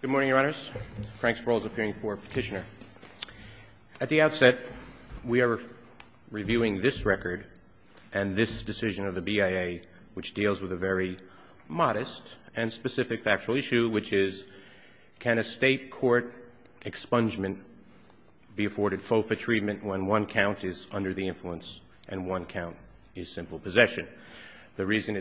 Good morning, Your Honors. Frank Sproul is appearing for petitioner. At the outset, we are reviewing this record and this decision of the BIA, which deals with a very modest and specific factual issue, which is can a State court expungement be afforded FOFA treatment when one count is under the influence and one count is simple possession? The reason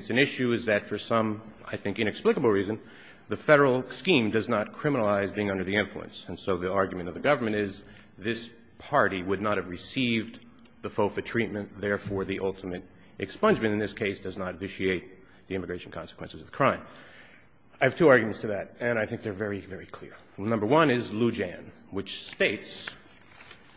does not criminalize being under the influence. And so the argument of the government is this party would not have received the FOFA treatment. Therefore, the ultimate expungement in this case does not vitiate the immigration consequences of the crime. I have two arguments to that, and I think they're very, very clear. Number one is Loujain, which states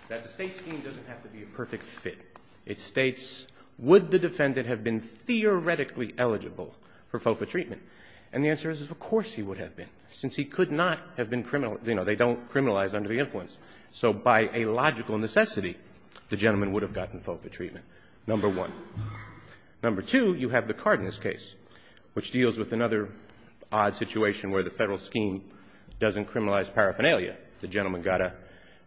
that the State scheme doesn't have to be a perfect fit. It states, would the defendant have been theoretically eligible for FOFA treatment? And the answer is, of course he would have been, since he could not have been criminal — you know, they don't criminalize under the influence. So by a logical necessity, the gentleman would have gotten FOFA treatment, number one. Number two, you have the Cardenas case, which deals with another odd situation where the Federal scheme doesn't criminalize paraphernalia. The gentleman got a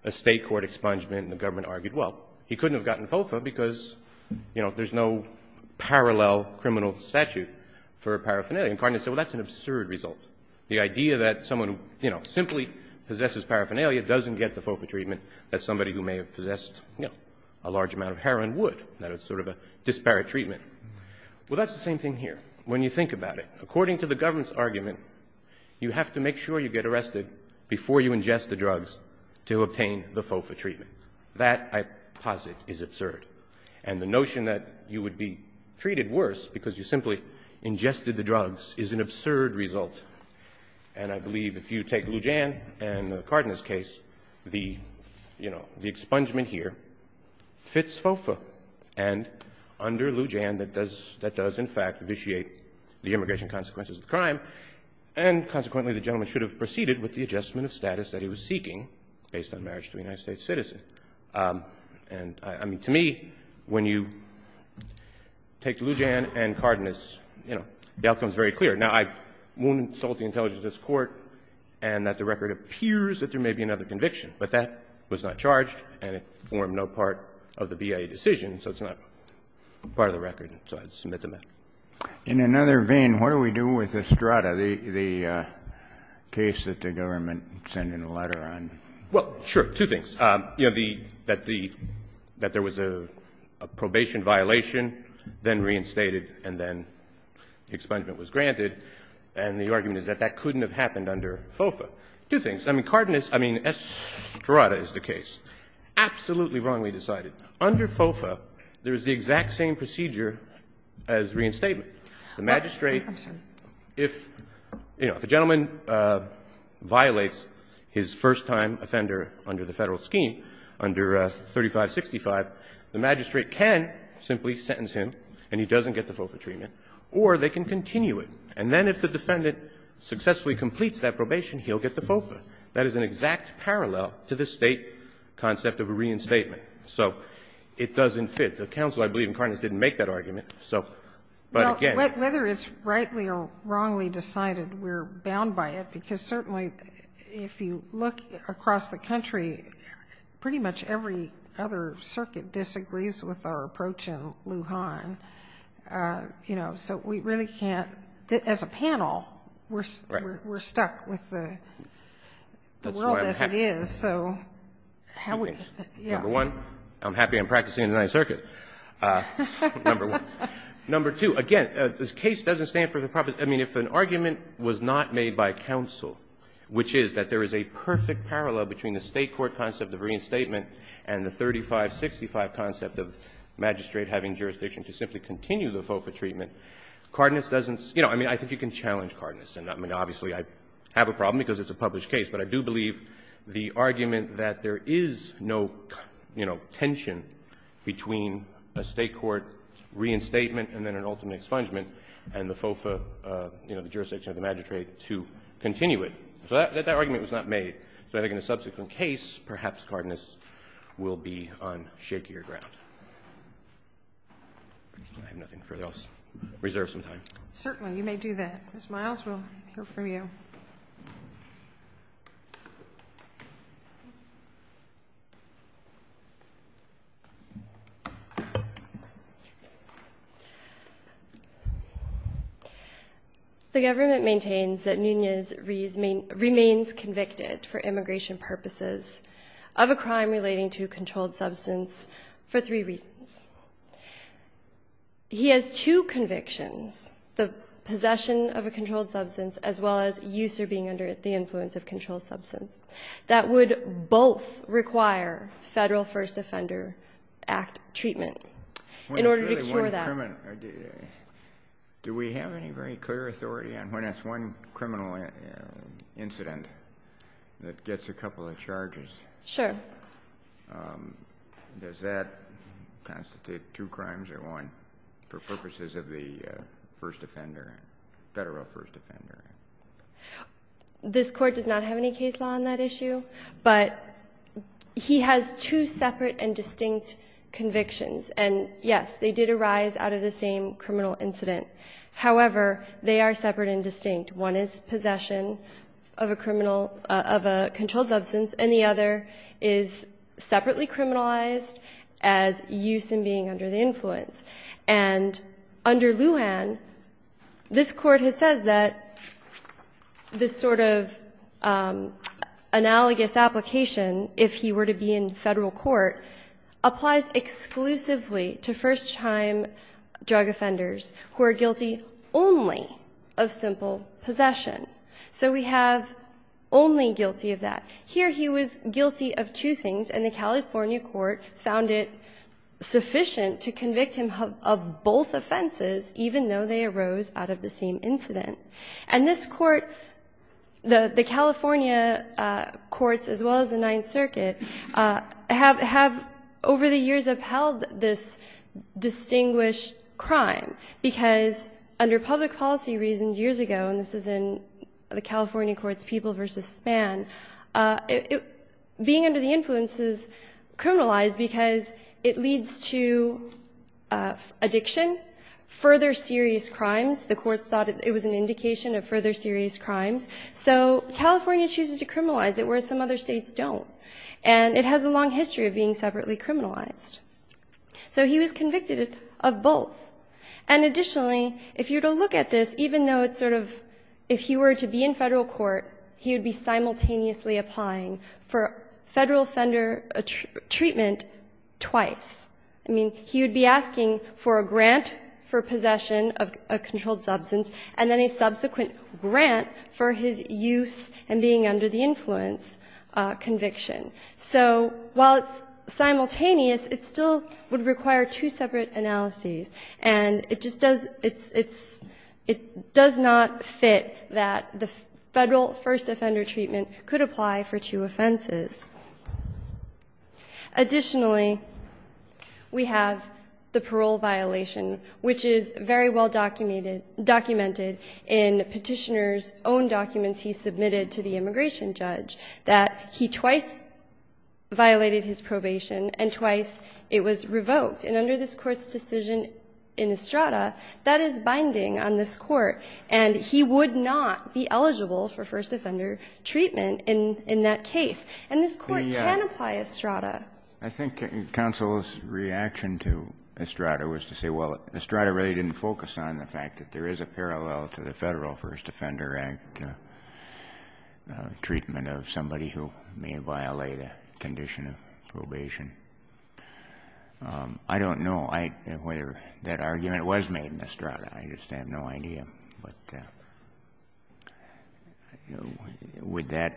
State court expungement, and the government argued, well, he couldn't have gotten FOFA because, you know, there's no parallel criminal statute for paraphernalia. And Cardenas said, well, that's an absurd result. The idea that someone who, you know, simply possesses paraphernalia doesn't get the FOFA treatment that somebody who may have possessed, you know, a large amount of heroin would, that it's sort of a disparate treatment. Well, that's the same thing here. When you think about it, according to the government's argument, you have to make sure you get arrested before you ingest the drugs to obtain the FOFA treatment. That, I posit, is absurd. And the notion that you would be treated worse because you simply ingested the drugs is an absurd result. And I believe if you take Lujan and Cardenas' case, the, you know, the expungement here fits FOFA. And under Lujan, that does, that does, in fact, vitiate the immigration consequences of the crime, and consequently, the gentleman should have proceeded with the adjustment of status that he was seeking based on marriage to a United States citizen. And, I mean, to me, when you take Lujan and Cardenas, you know, the outcome is very clear. Now, I won't insult the intelligence of this Court and that the record appears that there may be another conviction, but that was not charged and it formed no part of the BIA decision, so it's not part of the record, so I'd submit the matter. In another vein, what do we do with Estrada, the case that the government sent in a letter on? Well, sure, two things. You have the, that the, that there was a probation violation, then reinstated, and then expungement was granted, and the argument is that that couldn't have happened under FOFA. Two things. I mean, Cardenas, I mean, Estrada is the case. Absolutely wrongly decided. Under FOFA, there is the exact same procedure as reinstatement. The magistrate, if, you know, if a gentleman violates his first time offender under the Federal scheme, under 3565, the magistrate can simply sentence him, and he doesn't get the FOFA treatment, or they can continue it. And then if the defendant successfully completes that probation, he'll get the FOFA. That is an exact parallel to the State concept of a reinstatement. So it doesn't fit. The counsel, I believe, in Cardenas, didn't make that argument. So, but again --" Sotomayor, whether it's rightly or wrongly decided, we're bound by it, because certainly, if you look across the country, pretty much every other circuit disagrees with our approach in Lujan. You know, so we really can't, as a panel, we're stuck with the world as it is, so how would you do it? Number one, I'm happy I'm practicing in the Ninth Circuit. Number two, again, this case doesn't stand for the proposal. I mean, if an argument was not made by counsel, which is that there is a perfect parallel between the State court concept of reinstatement and the 3565 concept of magistrate having jurisdiction to simply continue the FOFA treatment, Cardenas doesn't --" You know, I mean, I think you can challenge Cardenas. I mean, obviously, I have a problem because it's a published case, but I do believe the argument that there is no, you know, tension between a State court reinstatement and then an ultimate expungement and the FOFA, you know, the jurisdiction of the magistrate to continue it. So that argument was not made. So I think in a subsequent case, perhaps Cardenas will be on shakier ground. I have nothing further. I'll reserve some time. Certainly. You may do that. Ms. Miles, we'll hear from you. Thank you. The government maintains that Nunez remains convicted for immigration purposes of a crime relating to a controlled substance for three reasons. He has two convictions, the possession of a controlled substance as well as use or being under the influence of controlled substance, that would both require Federal First Offender Act treatment in order to cure that. Do we have any very clear authority on when it's one criminal incident that gets a couple of charges? Sure. Does that constitute two crimes or one for purposes of the First Offender Act, Federal First Offender Act? This Court does not have any case law on that issue, but he has two separate and distinct convictions. And, yes, they did arise out of the same criminal incident. However, they are separate and distinct. One is possession of a controlled substance, and the other is separately criminalized as use and being under the influence. And under Lujan, this Court has said that this sort of analogous application, if he were to be in Federal court, applies exclusively to first-time drug offenders who are guilty only of simple possession. So we have only guilty of that. Here he was guilty of two things, and the California court found it sufficient to convict him of both offenses, even though they arose out of the same incident. And this Court, the California courts as well as the Ninth Circuit, have over the years upheld this distinguished crime, because under public policy reasons years ago, and this is in the California court's People v. Span, being under the influence is criminalized because it leads to addiction, further serious crimes. The courts thought it was an indication of further serious crimes. So California chooses to criminalize it, whereas some other States don't. And it has a long history of being separately criminalized. So he was convicted of both. And additionally, if you were to look at this, even though it's sort of, if he were to be in Federal court, he would be simultaneously applying for Federal offender treatment twice. I mean, he would be asking for a grant for possession of a controlled substance, and then a subsequent grant for his use and being under the influence conviction. So while it's simultaneous, it still would require two separate analyses. And it just does, it's, it does not fit that the Federal first offender treatment could apply for two offenses. Additionally, we have the parole violation, which is very well documented in Petitioner's own documents he submitted to the immigration judge, that he twice violated his probation and twice it was revoked. And under this Court's decision in Estrada, that is binding on this Court. And he would not be eligible for first offender treatment in that case. And this Court can apply Estrada. Kennedy. I think counsel's reaction to Estrada was to say, well, Estrada really didn't focus on the fact that there is a parallel to the Federal first offender act and a treatment of somebody who may violate a condition of probation. I don't know whether that argument was made in Estrada. I just have no idea. But would that,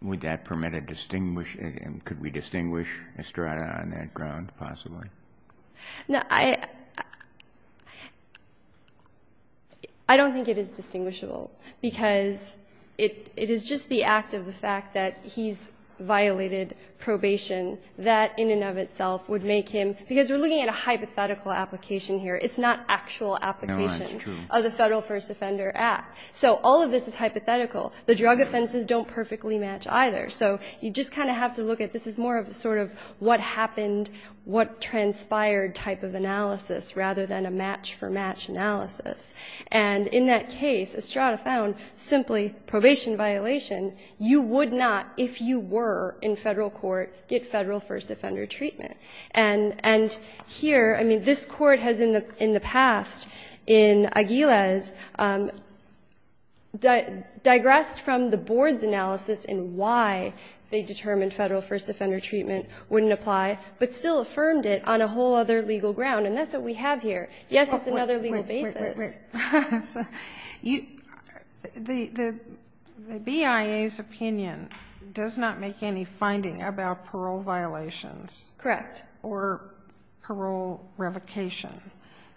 would that permit a distinguished, could we distinguish Estrada on that ground, possibly? No, I, I don't think it is distinguishable, because it, it is just the act of the fact that he's violated probation, that in and of itself would make him, because we're looking at a hypothetical application here. It's not actual application of the Federal first offender act. So all of this is hypothetical. The drug offenses don't perfectly match either. So you just kind of have to look at, this is more of a sort of what happened, what transpired type of analysis, rather than a match for match analysis. And in that case, Estrada found simply probation violation. You would not, if you were in Federal court, get Federal first offender treatment. And, and here, I mean, this Court has in the, in the past, in Aguiles, digressed from the Board's analysis in why they determined Federal first offender treatment wouldn't apply, but still affirmed it on a whole other legal ground. And that's what we have here. Yes, it's another legal basis. Wait, wait, wait, wait, you, the, the BIA's opinion does not make any finding about parole violations. Correct. Or parole revocation.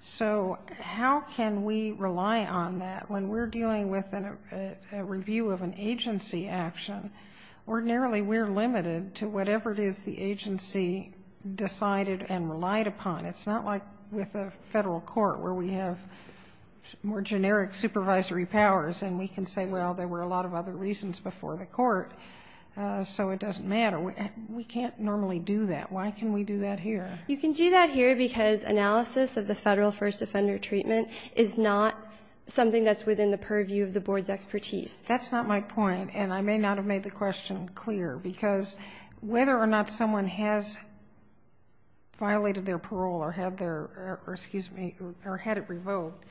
So how can we rely on that when we're dealing with a review of an agency action? Ordinarily, we're limited to whatever it is the agency decided and relied upon. It's not like with a Federal court where we have more generic supervisory powers and we can say, well, there were a lot of other reasons before the court, so it doesn't matter. We can't normally do that. Why can we do that here? You can do that here because analysis of the Federal first offender treatment is not something that's within the purview of the Board's expertise. That's not my point. And I may not have made the question clear because whether or not someone has violated their parole or had their, or excuse me, or had it revoked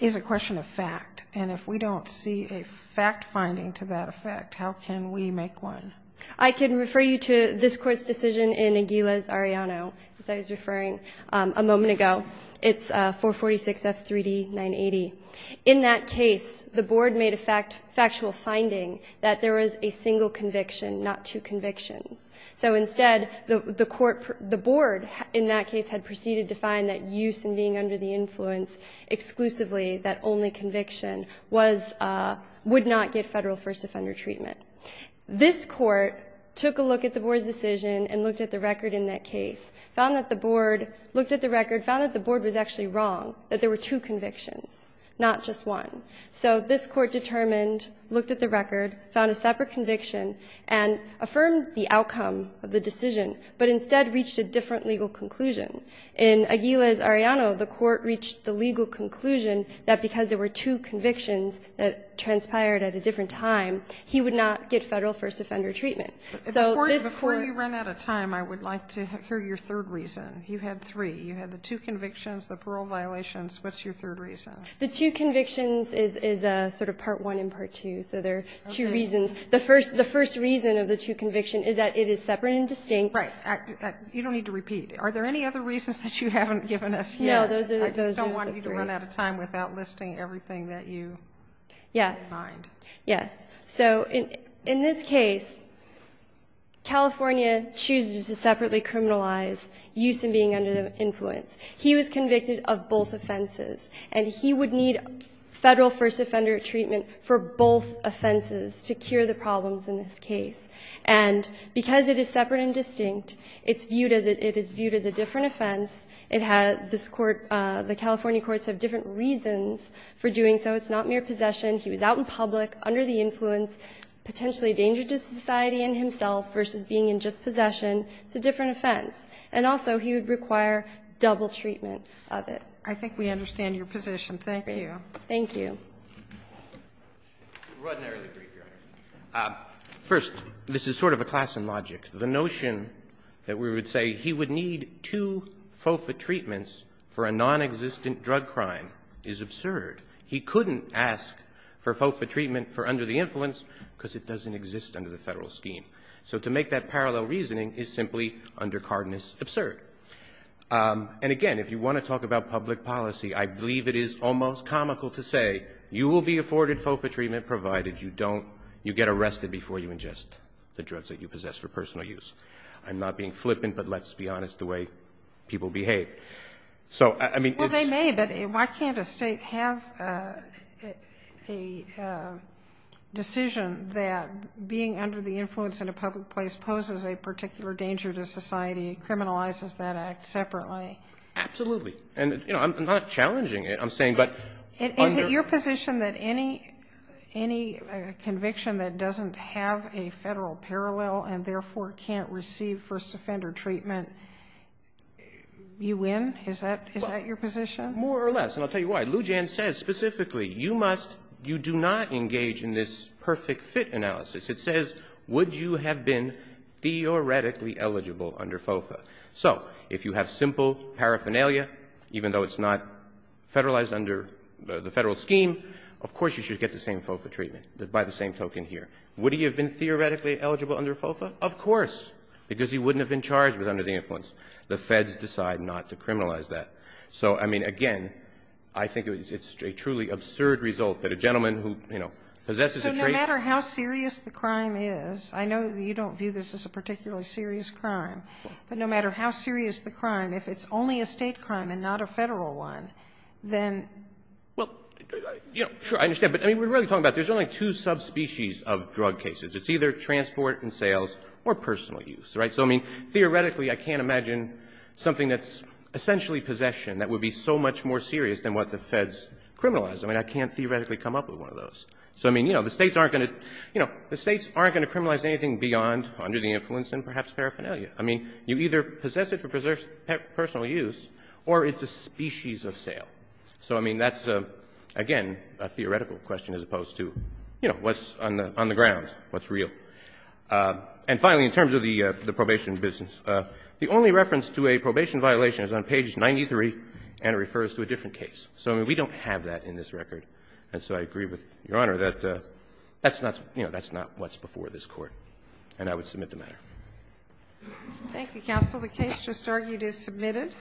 is a question of fact. And if we don't see a fact finding to that effect, how can we make one? I can refer you to this court's decision in Aguiles-Arellano, as I was referring a moment ago. It's 446F3D980. In that case, the Board made a factual finding that there was a single conviction, not two convictions. So instead, the Court, the Board in that case had proceeded to find that use in being under the influence exclusively that only conviction was, would not get Federal first offender treatment. This Court took a look at the Board's decision and looked at the record in that case, found that the Board, looked at the record, found that the Board was actually wrong, that there were two convictions. Not just one. So this Court determined, looked at the record, found a separate conviction, and affirmed the outcome of the decision, but instead reached a different legal conclusion. In Aguiles-Arellano, the Court reached the legal conclusion that because there were two convictions that transpired at a different time, he would not get Federal first offender treatment. So this Court… Before you run out of time, I would like to hear your third reason. You had three. You had the two convictions, the parole violations. What's your third reason? The two convictions is sort of part one and part two. So there are two reasons. The first reason of the two convictions is that it is separate and distinct. Right. You don't need to repeat. Are there any other reasons that you haven't given us here? No. Those are the three. I just don't want you to run out of time without listing everything that you mind. Yes. So in this case, California chooses to separately criminalize use in being under the influence. He was convicted of both offenses. And he would need Federal first offender treatment for both offenses to cure the problems in this case. And because it is separate and distinct, it's viewed as a different offense. It has this Court – the California courts have different reasons for doing so. It's not mere possession. He was out in public, under the influence, potentially a danger to society and himself versus being in just possession. It's a different offense. And also, he would require double treatment of it. I think we understand your position. Thank you. Thank you. First, this is sort of a class in logic. The notion that we would say he would need two FOFA treatments for a nonexistent drug crime is absurd. He couldn't ask for FOFA treatment for under the influence because it doesn't exist under the Federal scheme. So to make that parallel reasoning is simply undercardinous absurd. And again, if you want to talk about public policy, I believe it is almost comical to say you will be afforded FOFA treatment provided you don't – you get arrested before you ingest the drugs that you possess for personal use. I'm not being flippant, but let's be honest the way people behave. So, I mean, it's – Well, they may, but why can't a State have a decision that being under the influence in a public place poses a particular danger to society and criminalizes that act separately? Absolutely. And, you know, I'm not challenging it. I'm saying – Is it your position that any conviction that doesn't have a Federal parallel and therefore can't receive first offender treatment, you win? Is that your position? More or less. And I'll tell you why. Lou Jan says specifically you must – you do not engage in this perfect fit analysis. It says, would you have been theoretically eligible under FOFA? So if you have simple paraphernalia, even though it's not Federalized under the Federal scheme, of course you should get the same FOFA treatment, by the same token here. Would he have been theoretically eligible under FOFA? Of course. Because he wouldn't have been charged with under the influence. The Feds decide not to criminalize that. So, I mean, again, I think it's a truly absurd result that a gentleman who, you know, possesses a – No matter how serious the crime is – I know you don't view this as a particularly serious crime – but no matter how serious the crime, if it's only a State crime and not a Federal one, then – Well, you know, sure, I understand. But, I mean, we're really talking about there's only two subspecies of drug cases. It's either transport and sales or personal use, right? So, I mean, theoretically, I can't imagine something that's essentially possession that would be so much more serious than what the Feds criminalize. I mean, I can't theoretically come up with one of those. So, I mean, you know, the States aren't going to – you know, the States aren't going to criminalize anything beyond under the influence and perhaps paraphernalia. I mean, you either possess it for personal use or it's a species of sale. So, I mean, that's, again, a theoretical question as opposed to, you know, what's on the ground, what's real. And finally, in terms of the probation business, the only reference to a probation violation is on page 93, and it refers to a different case. So, I mean, we don't have that in this record. And so I agree with Your Honor that that's not – you know, that's not what's before this Court, and I would submit the matter. Thank you, counsel. The case just argued is submitted.